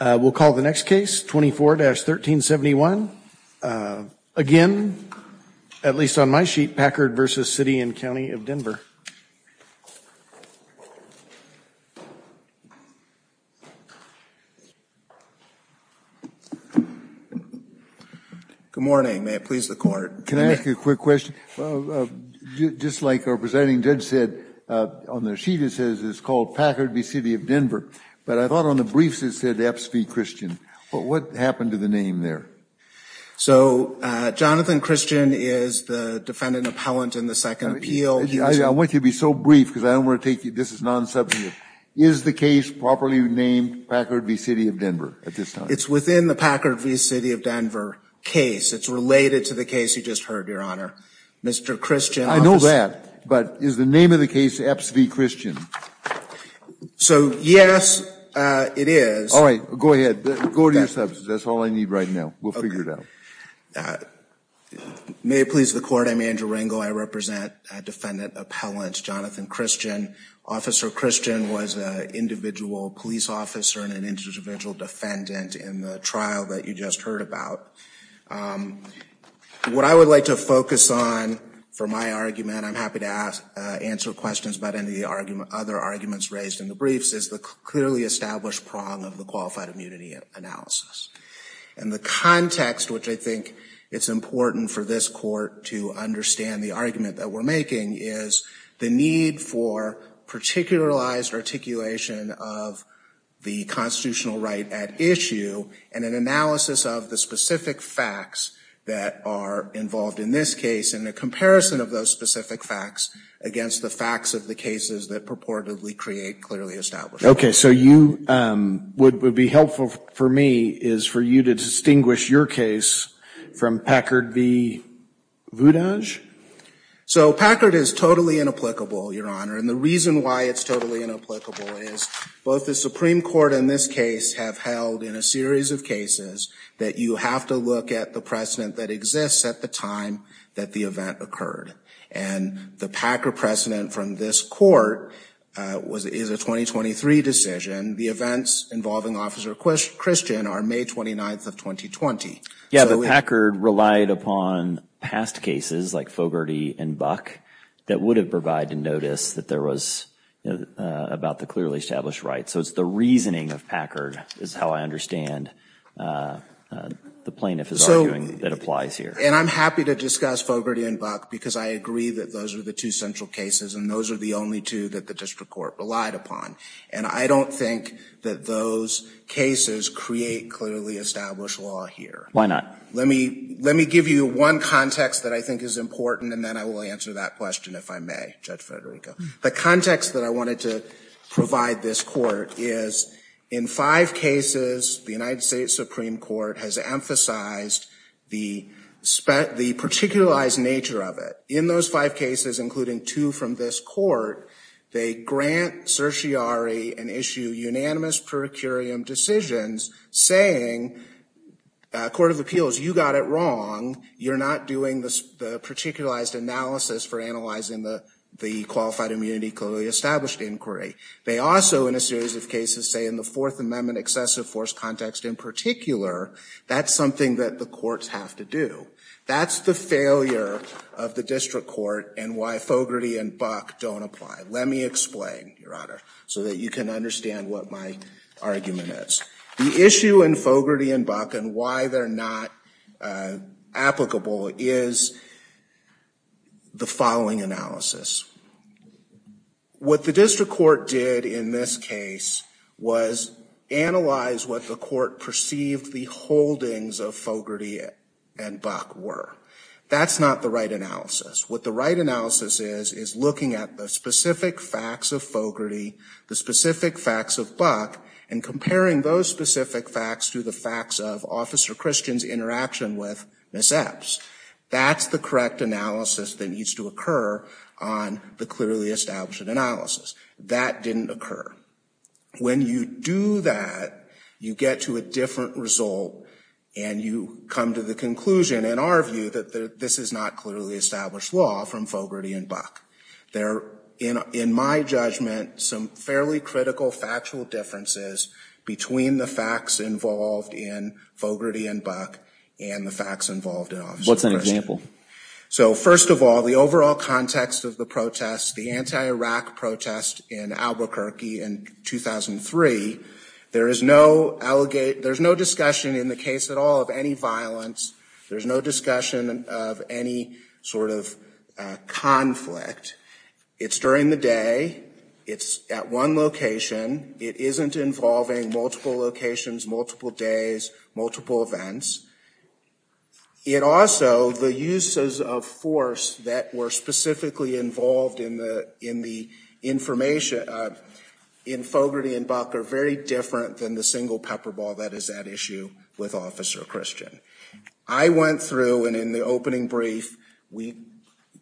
We'll call the next case, 24-1371, again, at least on my sheet, Packard v. City and County of Denver. Good morning, may it please the Court. Can I ask you a quick question? Just like our presenting judge said on their sheet, it says it's called Packard v. City of Denver. But I thought on the briefs it said Epps v. Christian, but what happened to the name there? Jonathan Christian is the defendant appellant in the second appeal. I want you to be so brief because I don't want to take you, this is non-substantive. Is the case properly named Packard v. City of Denver at this time? It's within the Packard v. City of Denver case. It's related to the case you just heard, Your Honor. Mr. Christian. I know that, but is the name of the case Epps v. Christian? So, yes, it is. All right, go ahead. Go to your substance. That's all I need right now. We'll figure it out. May it please the Court, I'm Andrew Rangel. I represent defendant appellant Jonathan Christian. Officer Christian was an individual police officer and an individual defendant in the trial that you just heard about. What I would like to focus on for my argument, I'm happy to answer questions about any of the other arguments raised in the briefs, is the clearly established prong of the qualified immunity analysis. And the context, which I think it's important for this Court to understand the argument that we're making, is the need for particularized articulation of the constitutional right at issue and an analysis of the specific facts that are involved in this case and a comparison of those specific facts against the facts of the cases that purportedly create clearly established. Okay, so you would be helpful for me is for you to distinguish your case from Packard v. Voudage? So Packard is totally inapplicable, Your Honor, and the reason why it's totally inapplicable is both the Supreme Court in this case have held in a series of cases that you have to look at the precedent that exists at the time that the event occurred and the Packard precedent from this court is a 2023 decision. The events involving Officer Christian are May 29th of 2020. Yeah, but Packard relied upon past cases like Fogarty and Buck that would have provided notice that there was about the clearly established right. So it's the reasoning of Packard is how I understand the plaintiff is arguing that applies here. And I'm happy to discuss Fogarty and Buck because I agree that those are the two central cases and those are the only two that the District Court relied upon and I don't think that those cases create clearly established law here. Why not? Let me let me give you one context that I think is important and then I will answer that question if I may, Judge Federico. The context that I wanted to provide this court is in five cases the United States Supreme Court has emphasized the the particularized nature of it. In those five cases including two from this court, they grant certiorari and issue unanimous procurium decisions saying Court of Appeals, you got it wrong. You're not doing this particularized analysis for analyzing the the qualified immunity clearly established inquiry. They also in a series of cases say in the Fourth Amendment excessive force context in particular, that's something that the courts have to do. That's the failure of the District Court and why Fogarty and Buck don't apply. Let me explain, Your Honor, so that you can understand what my argument is. The issue in Fogarty and Buck and why they're not applicable is the following analysis. What the District Court did in this case was analyze what the court perceived the holdings of Fogarty and Buck were. That's not the right analysis. What the right analysis is is looking at the specific facts of Fogarty, the specific facts of Buck, and comparing those specific facts to the facts of Officer Christian's interaction with Ms. Epps. That's the correct analysis that needs to occur on the clearly established analysis. That didn't occur. When you do that, you get to a different result and you come to the conclusion in our view that this is not clearly established law from Fogarty and Buck. There are, in my judgment, some fairly critical factual differences between the facts involved in Fogarty and Buck and the facts involved in Officer Christian. What's an example? So, first of all, the overall context of the protest, the anti-Iraq protest in Albuquerque in 2003, there is no discussion in the case at all of any violence. There's no discussion of any sort of conflict. It's during the day. It's at one location. It isn't involving multiple locations, multiple days, multiple events. It also, the uses of force that were specifically involved in the information in Fogarty and Buck are very different than the single pepper ball that is at issue with Officer Christian. I went through, and in the opening brief, we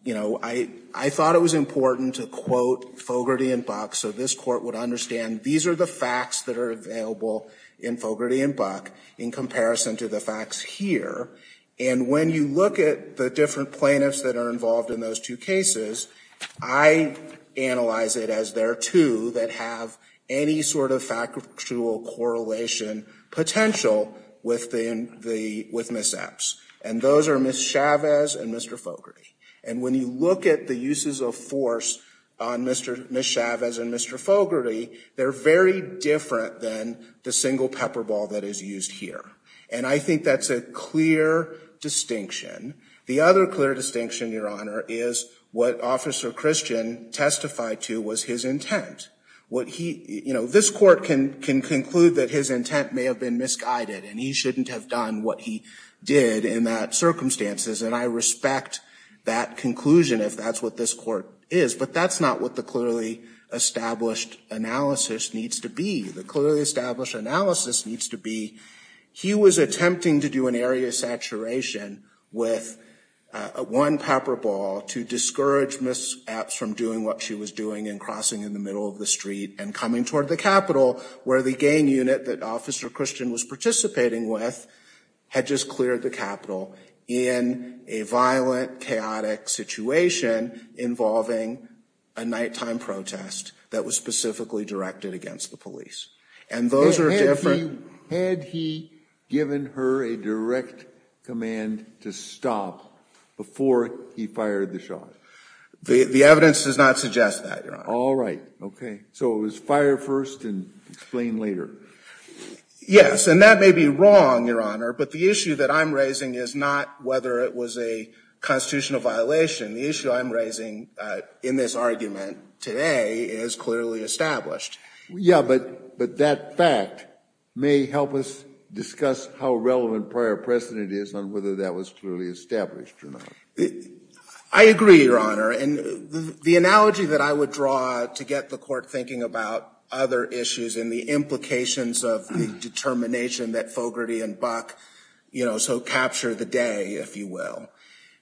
you know, I thought it was important to quote Fogarty and Buck so this court would understand these are the facts that are available in Fogarty and Buck in comparison to the facts here. And when you look at the different plaintiffs that are involved in those two cases, I analyze it as there are two that have any sort of factual correlation potential within the, with Ms. Epps. And those are Ms. Chavez and Mr. Fogarty. And when you look at the uses of force on Mr. Ms. Chavez and Mr. Fogarty, they're very different than the single pepper ball that is used here. And I think that's a clear distinction. The other clear distinction, Your Honor, is what Officer Christian testified to was his intent. What he, you know, this court can can conclude that his intent may have been misguided and he shouldn't have done what he did in that circumstances. And I respect that conclusion if that's what this court is, but that's not what the clearly established analysis needs to be. The clearly established analysis needs to be he was attempting to do an area of saturation with one pepper ball to discourage Ms. Epps from doing what she was doing in crossing in the middle of the street and coming toward the Capitol where the gang unit that Officer Christian was participating with had just cleared the Capitol in a violent chaotic situation involving a nighttime protest that was specifically directed against the police. And those are different... Had he given her a direct command to stop before he fired the shot? The evidence does not suggest that, Your Honor. All right. Okay, so it was fire first and explain later. Yes, and that may be wrong, Your Honor, but the issue that I'm raising is not whether it was a constitutional violation. The issue I'm raising in this argument today is clearly established. Yeah, but but that fact may help us discuss how relevant prior precedent is on whether that was clearly established or not. I agree, Your Honor, and the analogy that I would draw to get the court thinking about other issues and the implications of the determination that Fogarty and Buck, you know, so capture the day, if you will.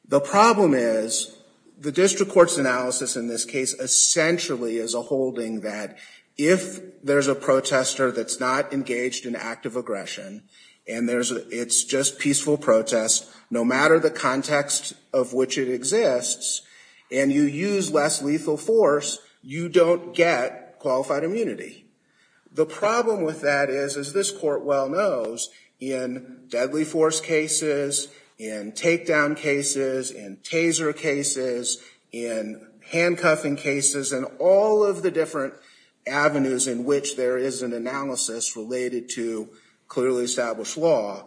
The problem is the district court's analysis in this case essentially is a holding that if there's a protester that's not engaged in active aggression and it's just peaceful protest, no matter the context of which it exists, and you use less lethal force, you don't get qualified immunity. The problem with that is, as this court well knows, in deadly force cases, in takedown cases, in taser cases, in handcuffing cases, and all of the different avenues in which there is an analysis related to clearly established law,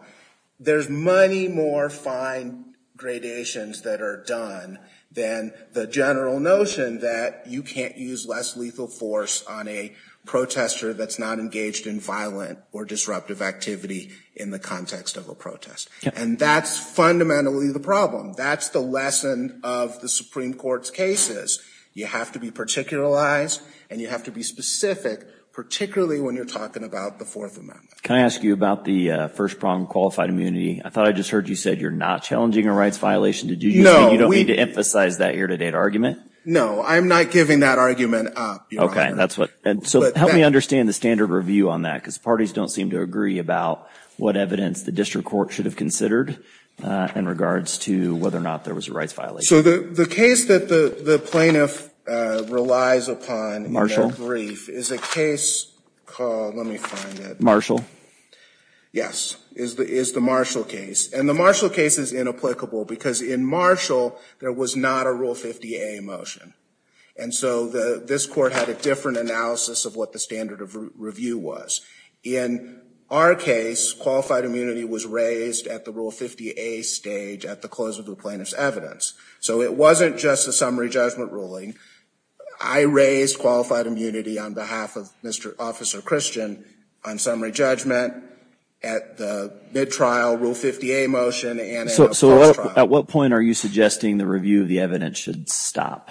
there's many more fine gradations that are done than the general notion that you can't use less lethal force on a protester that's not engaged in violent or disruptive activity in the context of a protest. And that's fundamentally the problem. That's the lesson of the Supreme Court's cases. You have to be particularized and you have to be specific, particularly when you're talking about the Fourth Amendment. Can I ask you about the first problem, qualified immunity? I thought I just heard you said you're not challenging a rights violation. Did you say you don't need to emphasize that year-to-date argument? No, I'm not giving that argument up. that's what, so help me understand the standard review on that, because parties don't seem to agree about what evidence the district court should have considered in regards to whether or not there was a rights violation. So the case that the plaintiff relies upon in their brief is a case called, let me find it, Marshall. Yes, is the Marshall case. And the Marshall case is inapplicable because in Marshall there was not a Rule 50A motion. And so the this court had a different analysis of what the standard of review was. In our case, qualified immunity was raised at the Rule 50A stage at the close of the plaintiff's evidence. So it wasn't just a summary judgment ruling. I raised qualified immunity on behalf of Mr. Officer Christian on summary judgment at the mid-trial Rule 50A motion. So at what point are you suggesting the review of the evidence should stop?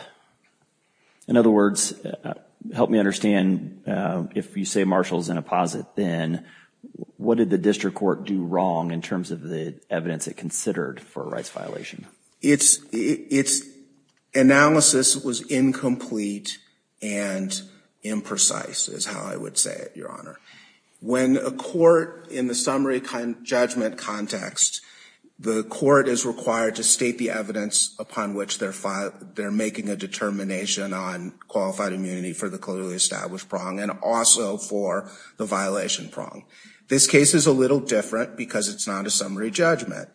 In other words, help me understand, if you say Marshall's in a posit, then what did the district court do wrong in terms of the evidence it considered for a rights violation? Its analysis was incomplete and imprecise is how I would say it, Your Honor. When a court in the summary kind of judgment context, the court is required to state the evidence upon which they're making a determination on qualified immunity for the clearly established prong and also for the violation prong. This case is a little different because it's not a summary judgment.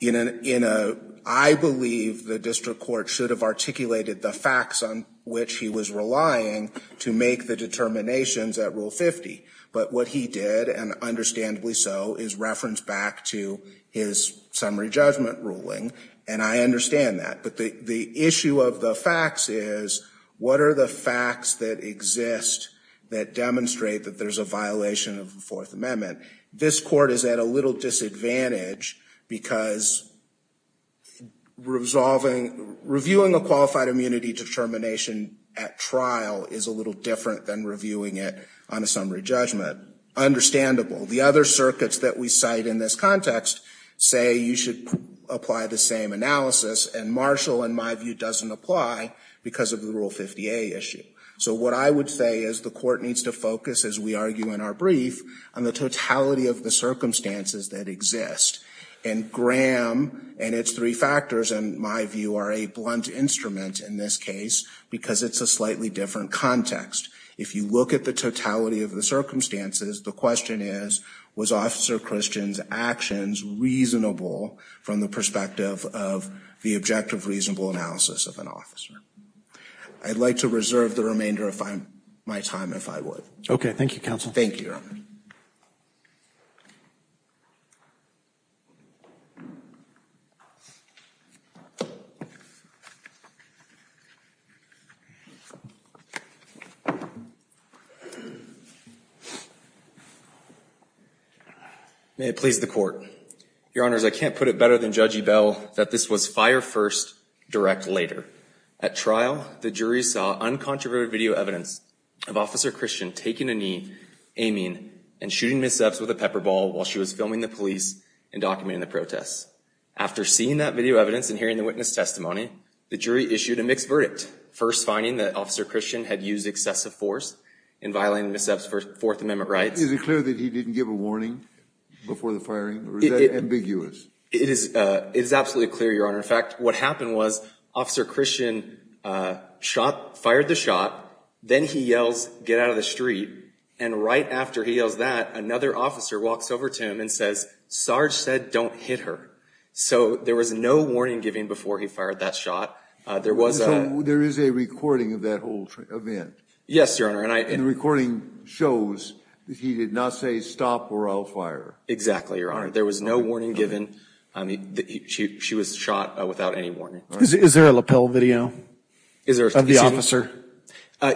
You know, I believe the district court should have articulated the facts on which he was relying to make the determinations at Rule 50. But what he did, and understandably so, is reference back to his summary judgment ruling, and I understand that. But the issue of the facts is, what are the facts that exist that demonstrate that there's a violation of the Fourth Amendment? This court is at a little disadvantage because resolving, reviewing a qualified immunity determination at trial is a little different than reviewing it on a summary judgment. Understandable. The other circuits that we cite in this context say you should apply the same analysis and Marshall, in my view, doesn't apply because of the Rule 50a issue. So what I would say is the court needs to focus, as we argue in our brief, on the totality of the circumstances that exist. And GRAM and its three factors, in my view, are a blunt instrument in this case because it's a slightly different context. If you look at the totality of the circumstances, the question is, was Officer Christian's actions reasonable from the perspective of the objective, reasonable analysis of an officer? I'd like to reserve the remainder of my time, if I would. Okay. Thank you, counsel. Thank you. May it please the court. Your Honors, I can't put it better than Judge Ebell that this was fire first, direct later. At trial, the jury saw uncontroverted video evidence of Officer Christian taking a knee, aiming, and shooting Ms. Epps with a pepper ball while she was filming the police and documenting the protests. After seeing that video evidence and hearing the witness testimony, the jury issued a mixed verdict, first finding that Officer Christian had used excessive force in violating Ms. Epps' Fourth Amendment rights. Is it clear that he didn't give a warning before the firing, or is that ambiguous? It is absolutely clear, Your Honor. In fact, what happened was Officer Christian fired the shot, then he yells, get out of the street, and right after he yells that, another officer walks over to him and says, Sarge said don't hit her. So there was no warning given before he fired that shot. There is a recording of that whole event. Yes, Your Honor. And the recording shows that he did not say stop or I'll fire. Exactly, Your Honor. There was no warning given. I mean, she was shot without any warning. Is there a lapel video? Of the officer?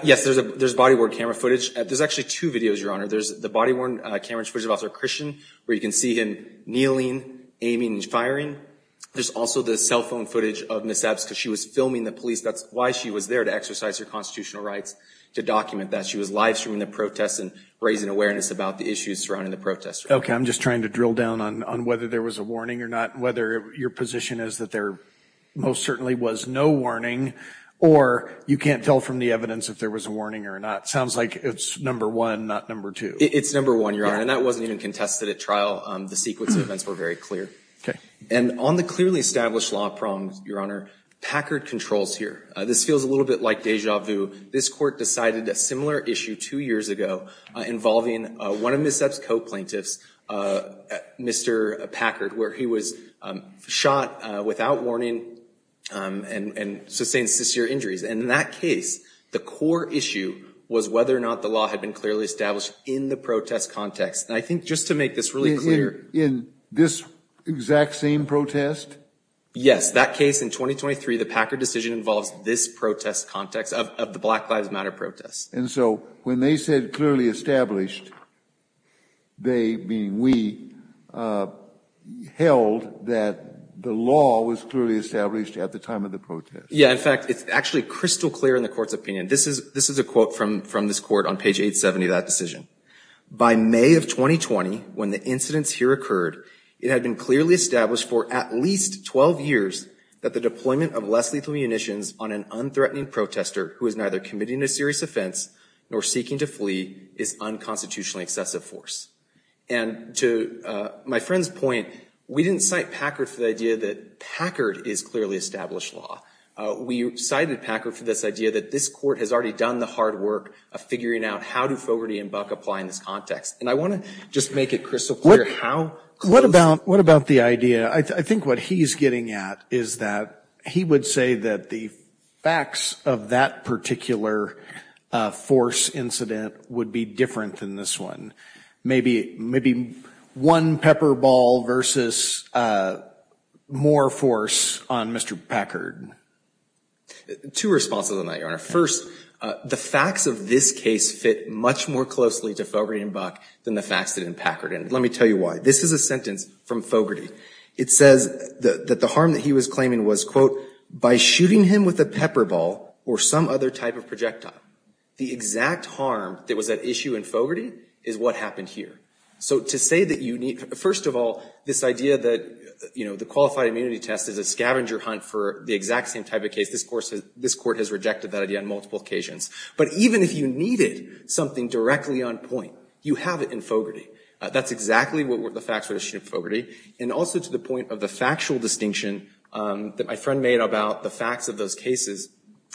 Yes, there's a body-worn camera footage. There's actually two videos, Your Honor. There's the body-worn camera footage of Officer Christian, where you can see him kneeling, aiming, and firing. There's also the cell phone footage of Ms. Epps because she was filming the police. That's why she was there, to exercise her constitutional rights, to document that. She was live-streaming the protests and raising awareness about the issues surrounding the protests. Okay, I'm just trying to drill down on whether there was a warning or not, whether your position is that there most certainly was no warning, or you can't tell from the evidence if there was a warning or not. Sounds like it's number one, not number two. It's number one, Your Honor, and that wasn't even contested at trial. The sequence of events were very clear. Okay. And on the clearly established law prongs, Your Honor, Packard controls here. This feels a little bit like deja vu. This court decided a similar issue two years ago involving one of Ms. Epps' co-plaintiffs, Mr. Packard, where he was shot without warning and sustained severe injuries. And in that case, the core issue was whether or not the law had been clearly established in the protest context. And I think just to make this really clear... In this exact same protest? Yes, that case in 2023, the Packard decision involves this protest context of the Black Lives Matter protests. And so when they said clearly established, they, meaning we, held that the law was clearly established at the time of the protest. Yeah, in fact, it's actually crystal clear in the Court's opinion. This is a quote from this Court on page 870 of that decision. By May of 2020, when the incidents here occurred, it had been clearly established for at least 12 years that the deployment of less lethal munitions on an unthreatening protester who is neither committing a serious offense nor seeking to flee is unconstitutionally excessive force. And to my friend's point, we didn't cite Packard for the idea that Packard is clearly established law. We cited Packard for this idea that this Court has already done the hard work of figuring out how do Fogarty and Buck apply in this context. And I want to just make it crystal clear how... What about the idea? I think what he's getting at is that he would say that the facts of that particular force incident would be different than this one. Maybe one pepper ball versus more force on Mr. Packard. Two responses on that, Your Honor. First, the facts of this case fit much more closely to Fogarty and Buck than the facts that didn't Packard. And let me tell you why. This is a sentence from Fogarty. It says that the harm that he was claiming was, quote, by shooting him with a pepper ball or some other type of projectile. The exact harm that was at issue in Fogarty is what happened here. So to say that you need... First of all, this idea that, you know, the qualified immunity test is a scavenger hunt for the exact same type of case. This Court has rejected that idea on multiple occasions. But even if you needed something directly on point, you have it in Fogarty. That's exactly what the facts were issued in Fogarty. And also to the point of the factual distinction that my friend made about the facts of those cases,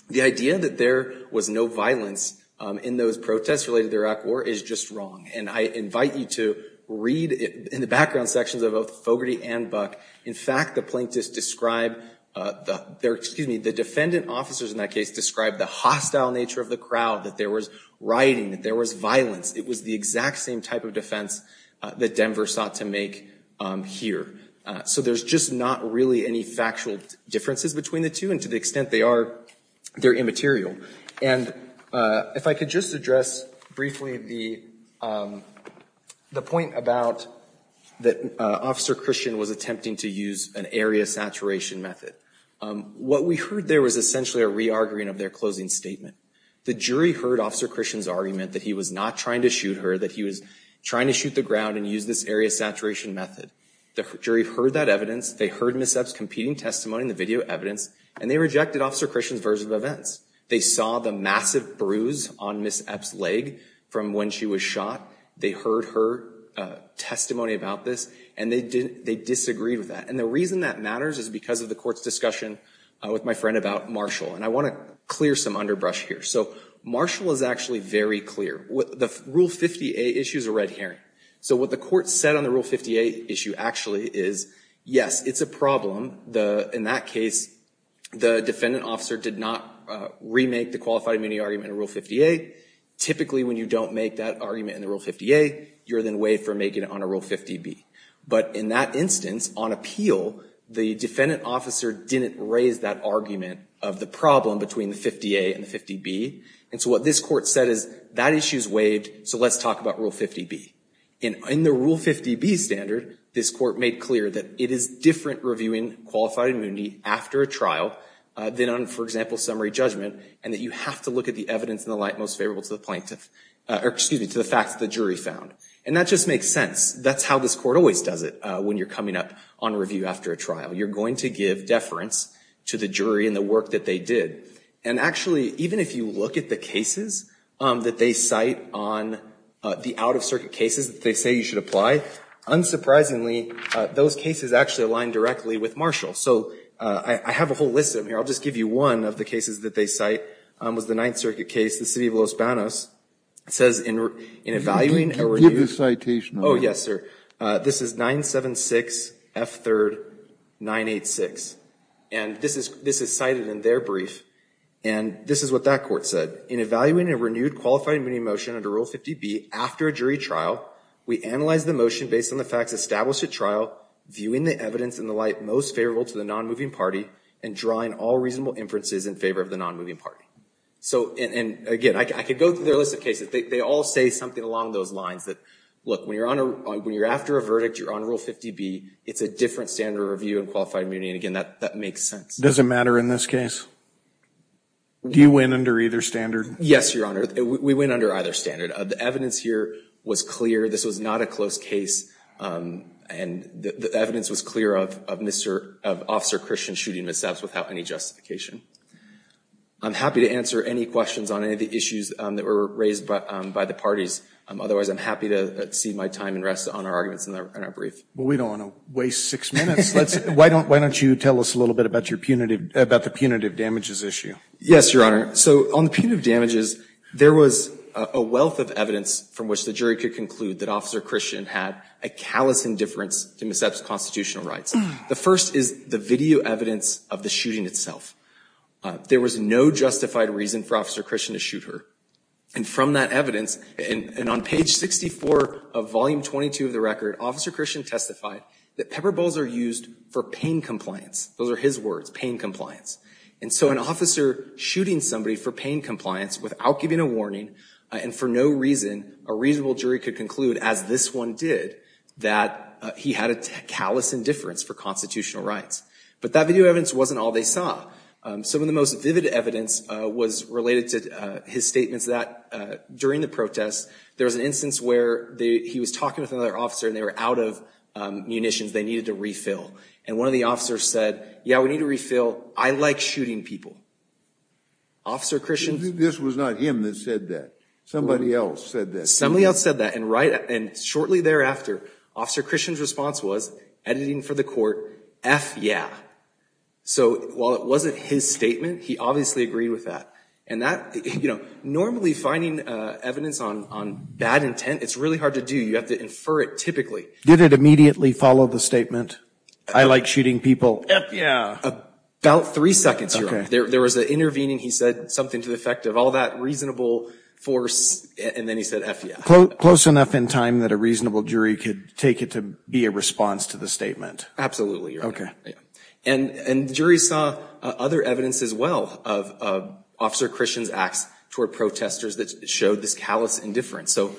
the idea that there was no violence in those protests related to the Iraq war is just wrong. And I invite you to read in the background sections of both Fogarty and Buck. In fact, the plaintiffs describe the defendant officers in that case described the hostile nature of the crowd, that there was rioting, that there was violence. It was the exact same type of defense that Denver sought to make here. So there's just not really any factual differences between the two and to the extent they are, they're immaterial. And if I could just address briefly the the point about that Officer Christian was attempting to use an area saturation method. What we heard there was essentially a re-arguing of their closing statement. The jury heard Officer Christian's argument that he was not trying to shoot her, that he was trying to shoot the ground and use this area saturation method. The jury heard that evidence, they heard Ms. Epps' competing testimony in the video evidence, and they rejected Officer Christian's version of events. They saw the massive bruise on Ms. Epps' leg from when she was shot. They heard her testimony about this and they disagreed with that. And the reason that matters is because of the court's discussion with my friend about Marshall. And I want to clear some underbrush here. So Marshall is actually very clear. The Rule 50A issue is a red herring. So what the court said on the Rule 50A issue actually is, yes, it's a problem. In that case, the defendant officer did not remake the qualified immunity argument in Rule 50A. Typically when you don't make that argument in the Rule 50A, you're then waived for making it on a Rule 50B. But in that instance, on appeal, the defendant officer didn't raise that argument of the problem between the 50A and 50B. And so what this court said is, that issue is waived, so let's talk about Rule 50B. And in the Rule 50B standard, this court made clear that it is different reviewing qualified immunity after a trial than on, for example, summary judgment, and that you have to look at the evidence in the light most favorable to the plaintiff, or excuse me, to the facts the jury found. And that just makes sense. That's how this court always does it when you're coming up on review after a trial. You're going to give deference to the jury and the work that they did. And actually, even if you look at the cases that they cite on the out-of-circuit cases that they say you should apply, unsurprisingly, those cases actually align directly with Marshall. So I have a whole list of them here. I'll just give you one of the cases that they cite. It was the Ninth Circuit case, the city of Los Banos. It says in evaluating, or were you... Give the citation. Oh, yes, sir. This is 976 F. 3rd. 986. And this is cited in their brief, and this is what that court said. In evaluating a renewed qualified immunity motion under Rule 50B after a jury trial, we analyze the motion based on the facts established at trial, viewing the evidence in the light most favorable to the non-moving party, and drawing all reasonable inferences in favor of the non-moving party. So, and again, I could go through their list of cases. They all say something along those lines that, look, when you're after a verdict, you're on Rule 50B, it's a different standard of review and qualified immunity, and again, that makes sense. Does it matter in this case? Do you win under either standard? Yes, Your Honor. We win under either standard. The evidence here was clear. This was not a close case, and the evidence was clear of Mr. Officer Christian shooting Ms. Epps without any justification. I'm happy to answer any questions on any of the issues that were raised by the parties. Otherwise, I'm happy to see my time and rest on our arguments in our brief. Well, we don't want to waste six minutes. Let's, why don't, why don't you tell us a little bit about your punitive, about the punitive damages issue? Yes, Your Honor. So on the punitive damages, there was a wealth of evidence from which the jury could conclude that Officer Christian had a callous indifference to Ms. Epps' constitutional rights. The first is the video evidence of the shooting itself. There was no justified reason for Officer Christian to shoot her, and from that evidence, and on page 64 of volume 22 of the record, Officer Christian testified that pepper bowls are used for pain compliance. Those are his words, pain compliance. And so an officer shooting somebody for pain compliance without giving a warning, and for no reason, a reasonable jury could conclude, as this one did, that he had a callous indifference for constitutional rights. But that video evidence wasn't all they saw. Some of the most vivid evidence was related to his statements that, during the protest, there was an instance where he was talking with another officer, and they were out of munitions they needed to refill. And one of the officers said, yeah, we need to refill. I like shooting people. Officer Christian... This was not him that said that. Somebody else said that. Somebody else said that, and right, and shortly thereafter, Officer Christian's response was, editing for the court, F yeah. So while it wasn't his statement, he obviously agreed with that. And that, you know, normally finding evidence on bad intent, it's really hard to do. You have to infer it typically. Did it immediately follow the statement, I like shooting people? F yeah. About three seconds. There was an intervening, he said something to the effect of all that reasonable force, and then he said F yeah. Close enough in time that a reasonable jury could take it to be a response to the statement. Absolutely. Okay. And the jury saw other evidence as well of Officer Christian's acts toward protesters that showed this callous indifference. So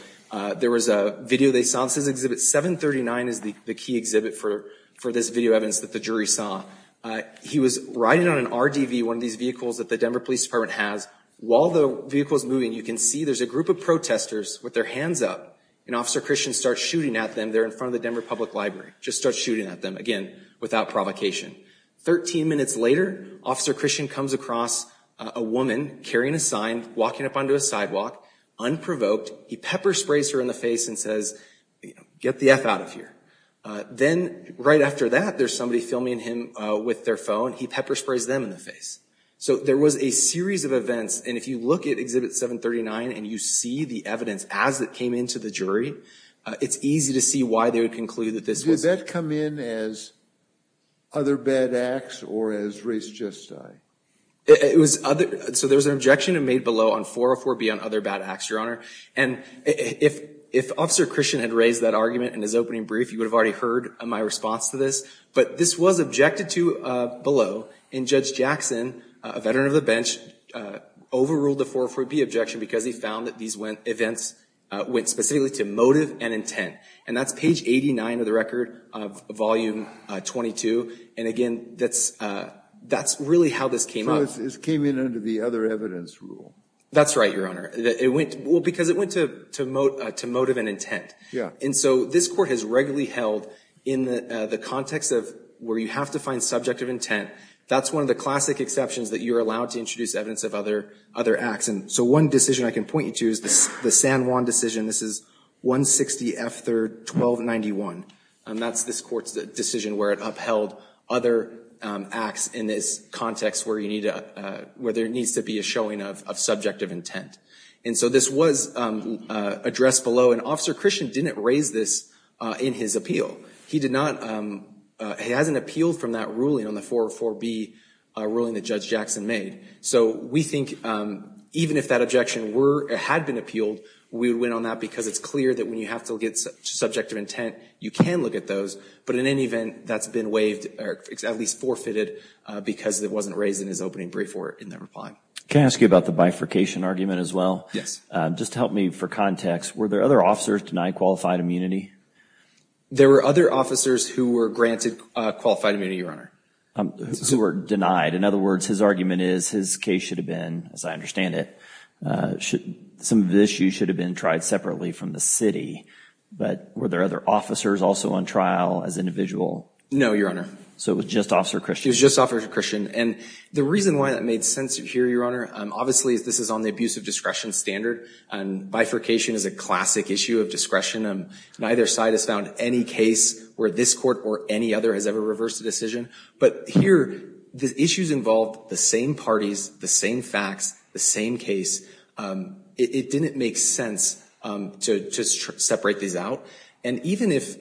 there was a video they saw. This is exhibit 739 is the key exhibit for this video evidence that the jury saw. He was riding on an RDV, one of these vehicles that the Denver Police Department has. While the vehicle is moving, you can see there's a group of protesters with their hands up, and Officer Christian starts shooting at them. They're in front of the Denver Public Library. Just starts shooting at them, again, without provocation. Thirteen minutes later, Officer Christian comes across a woman carrying a sign, walking up onto a sidewalk, unprovoked. He pepper sprays her in the face and says, get the F out of here. Then right after that, there's somebody filming him with their phone. He pepper sprays them in the face. So there was a series of events, and if you look at exhibit 739 and you see the evidence as it came into the jury, it's easy to see why they would conclude that this was... Did that come in as other bad acts or as race justice? So there was an objection made below on 404B on other bad acts, Your Honor. And if Officer Christian had raised that argument in his opening brief, you would have already heard my response to this. But this was objected to below, and Judge Jackson, a veteran of the bench, overruled the 404B objection because he found that these events went specifically to motive and intent. And that's page 89 of the record of volume 22. And again, that's really how this came up. So this came in under the other evidence rule? That's right, Your Honor. Well, because it went to motive and intent. Yeah. And so this Court has regularly held in the context of where you have to find subject of intent, that's one of the classic exceptions that you're allowed to introduce evidence of other acts. And so one decision I can point you to is the San Juan decision. This is 160 F. 3rd, 1291. And that's this Court's decision where it upheld other acts in this context where you need to... where there needs to be a showing of subject of intent. And so this was addressed below, and Officer Christian didn't raise this in his appeal. He did not... He hasn't appealed from that ruling on the 404B ruling that Judge Jackson made. So we think even if that objection had been appealed, we would win on that because it's clear that when you have to look at subject of intent, you can look at those. But in any event, that's been waived or at least forfeited because it wasn't raised in his opening brief or in their reply. Can I ask you about the bifurcation argument as well? Yes. Just help me for context. Were there other officers denied qualified immunity? There were other officers who were granted qualified immunity, Your Honor. Who were denied. In other words, his argument is his case should have been, as I understand it, some of the issues should have been tried separately from the city. But were there other officers also on trial as individual? No, Your Honor. So it was just Officer Christian? It was just Officer Christian. And the reason why that made sense here, Your Honor, obviously this is on the abuse of discretion standard. And bifurcation is a classic issue of discretion. Neither side has found any case where this Court or any other has ever reversed a decision. But here, the issues involved the same parties, the same facts, the same case. It didn't make sense to separate these out. And even if,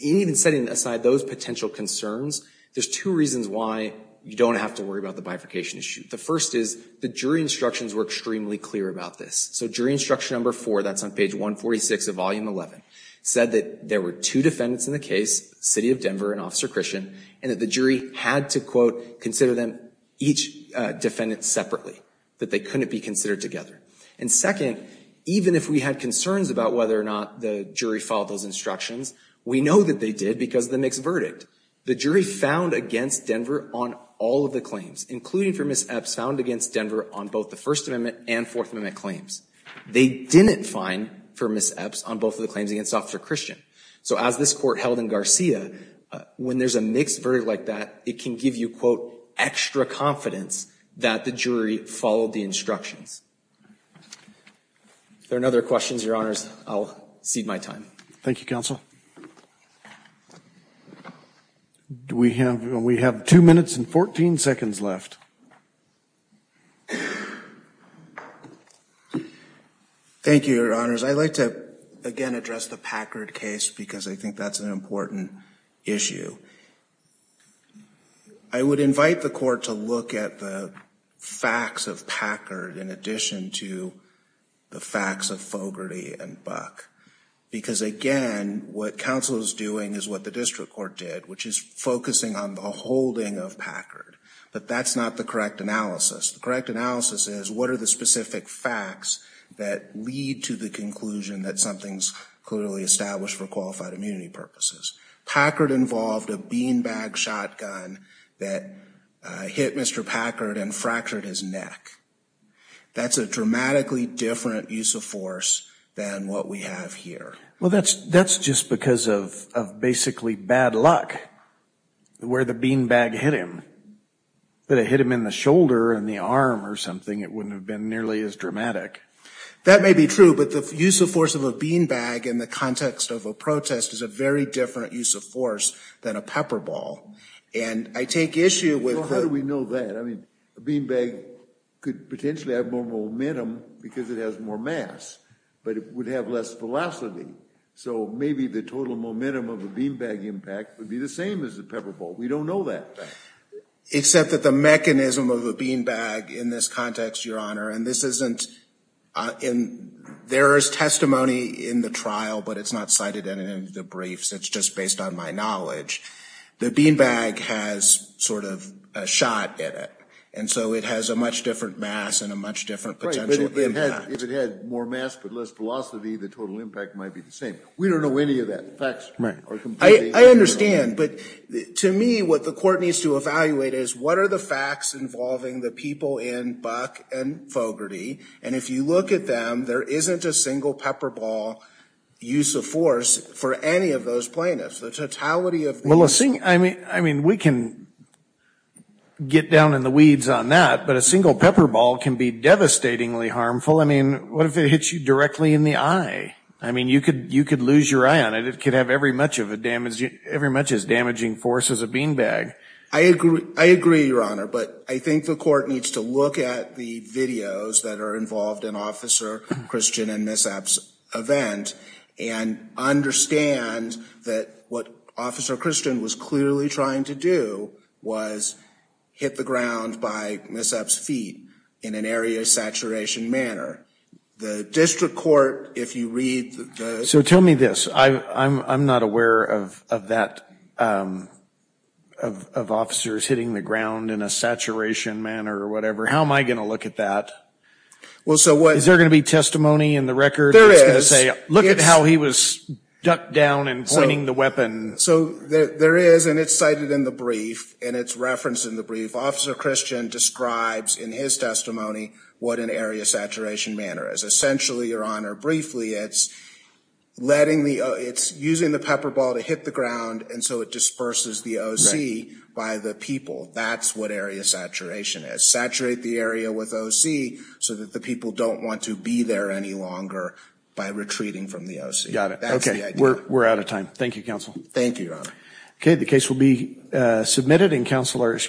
even setting aside those potential concerns, there's two reasons why you don't have to worry about the bifurcation issue. The first is the jury instructions were extremely clear about this. So jury instruction number four, that's on page 146 of volume 11, said that there were two defendants in the case, City of Denver and Officer Christian, and that the jury had to, quote, consider them, each defendant separately, that they couldn't be considered together. And second, even if we had concerns about whether or not the jury filed those instructions, we know that they did because of the mixed verdict. The jury found against Denver on all of the claims, including for Ms. Epps, found against Denver on both the First Amendment and Fourth Amendment claims. They didn't find, for Ms. Epps, on both of the claims against Officer Christian. So as this court held in Garcia, when there's a mixed verdict like that, it can give you, quote, extra confidence that the jury followed the instructions. If there are no other questions, Your Honors, I'll cede my time. Thank you, Counsel. We have two minutes and 14 seconds left. Thank you, Your Honors. I'd like to, again, address the Packard case because I think that's an important issue. I would invite the court to look at the facts of Packard in addition to the facts of Fogarty and Buck. Because, again, what counsel is doing is what the district court did, which is focusing on the holding of Packard. But that's not the correct analysis. The correct analysis is what are the specific facts that lead to the conclusion that something's clearly established for qualified immunity purposes. Packard involved a beanbag shotgun that hit Mr. Packard and fractured his neck. That's a dramatically different use of force than what we have here. Well, that's just because of basically bad luck, where the beanbag hit him. If it had hit him in the shoulder or in the arm or something, it wouldn't have been nearly as dramatic. That may be true, but the use of force of a beanbag in the context of a protest is a very different use of force than a pepper ball. How do we know that? A beanbag could potentially have more momentum because it has more mass, but it would have less velocity. So maybe the total momentum of a beanbag impact would be the same as a pepper ball. We don't know that. Except that the mechanism of a beanbag in this context, Your Honor, and there is testimony in the trial, but it's not cited in any of the briefs. It's just based on my knowledge. The beanbag has sort of a shot in it, and so it has a much different mass and a much different potential impact. Right, but if it had more mass but less velocity, the total impact might be the same. We don't know any of that. The facts are completely different. I understand, but to me, what the court needs to evaluate is what are the facts involving the people in Buck and Fogarty, and if you look at them, there isn't a single pepper ball use of force for any of those plaintiffs. I mean, we can get down in the weeds on that, but a single pepper ball can be devastatingly harmful. I mean, what if it hits you directly in the eye? I mean, you could lose your eye on it. It could have every much as damaging force as a beanbag. I agree, Your Honor, but I think the court needs to look at the videos that are involved in Officer Christian and Ms. Epps' event, and understand that what Officer Christian was clearly trying to do was hit the ground by Ms. Epps' feet in an area of saturation manner. The district court, if you read the – So tell me this. I'm not aware of that, of officers hitting the ground in a saturation manner or whatever. How am I going to look at that? Is there going to be testimony in the record? Look at how he was ducked down and pointing the weapon. So there is, and it's cited in the brief, and it's referenced in the brief. Officer Christian describes in his testimony what an area of saturation manner is. Essentially, Your Honor, briefly, it's letting the – it's using the pepper ball to hit the ground, and so it disperses the OC by the people. That's what area of saturation is. It's trying to saturate the area with OC so that the people don't want to be there any longer by retreating from the OC. Got it. Okay. We're out of time. Thank you, Counsel. Thank you, Your Honor. Okay. The case will be submitted, and Counselor –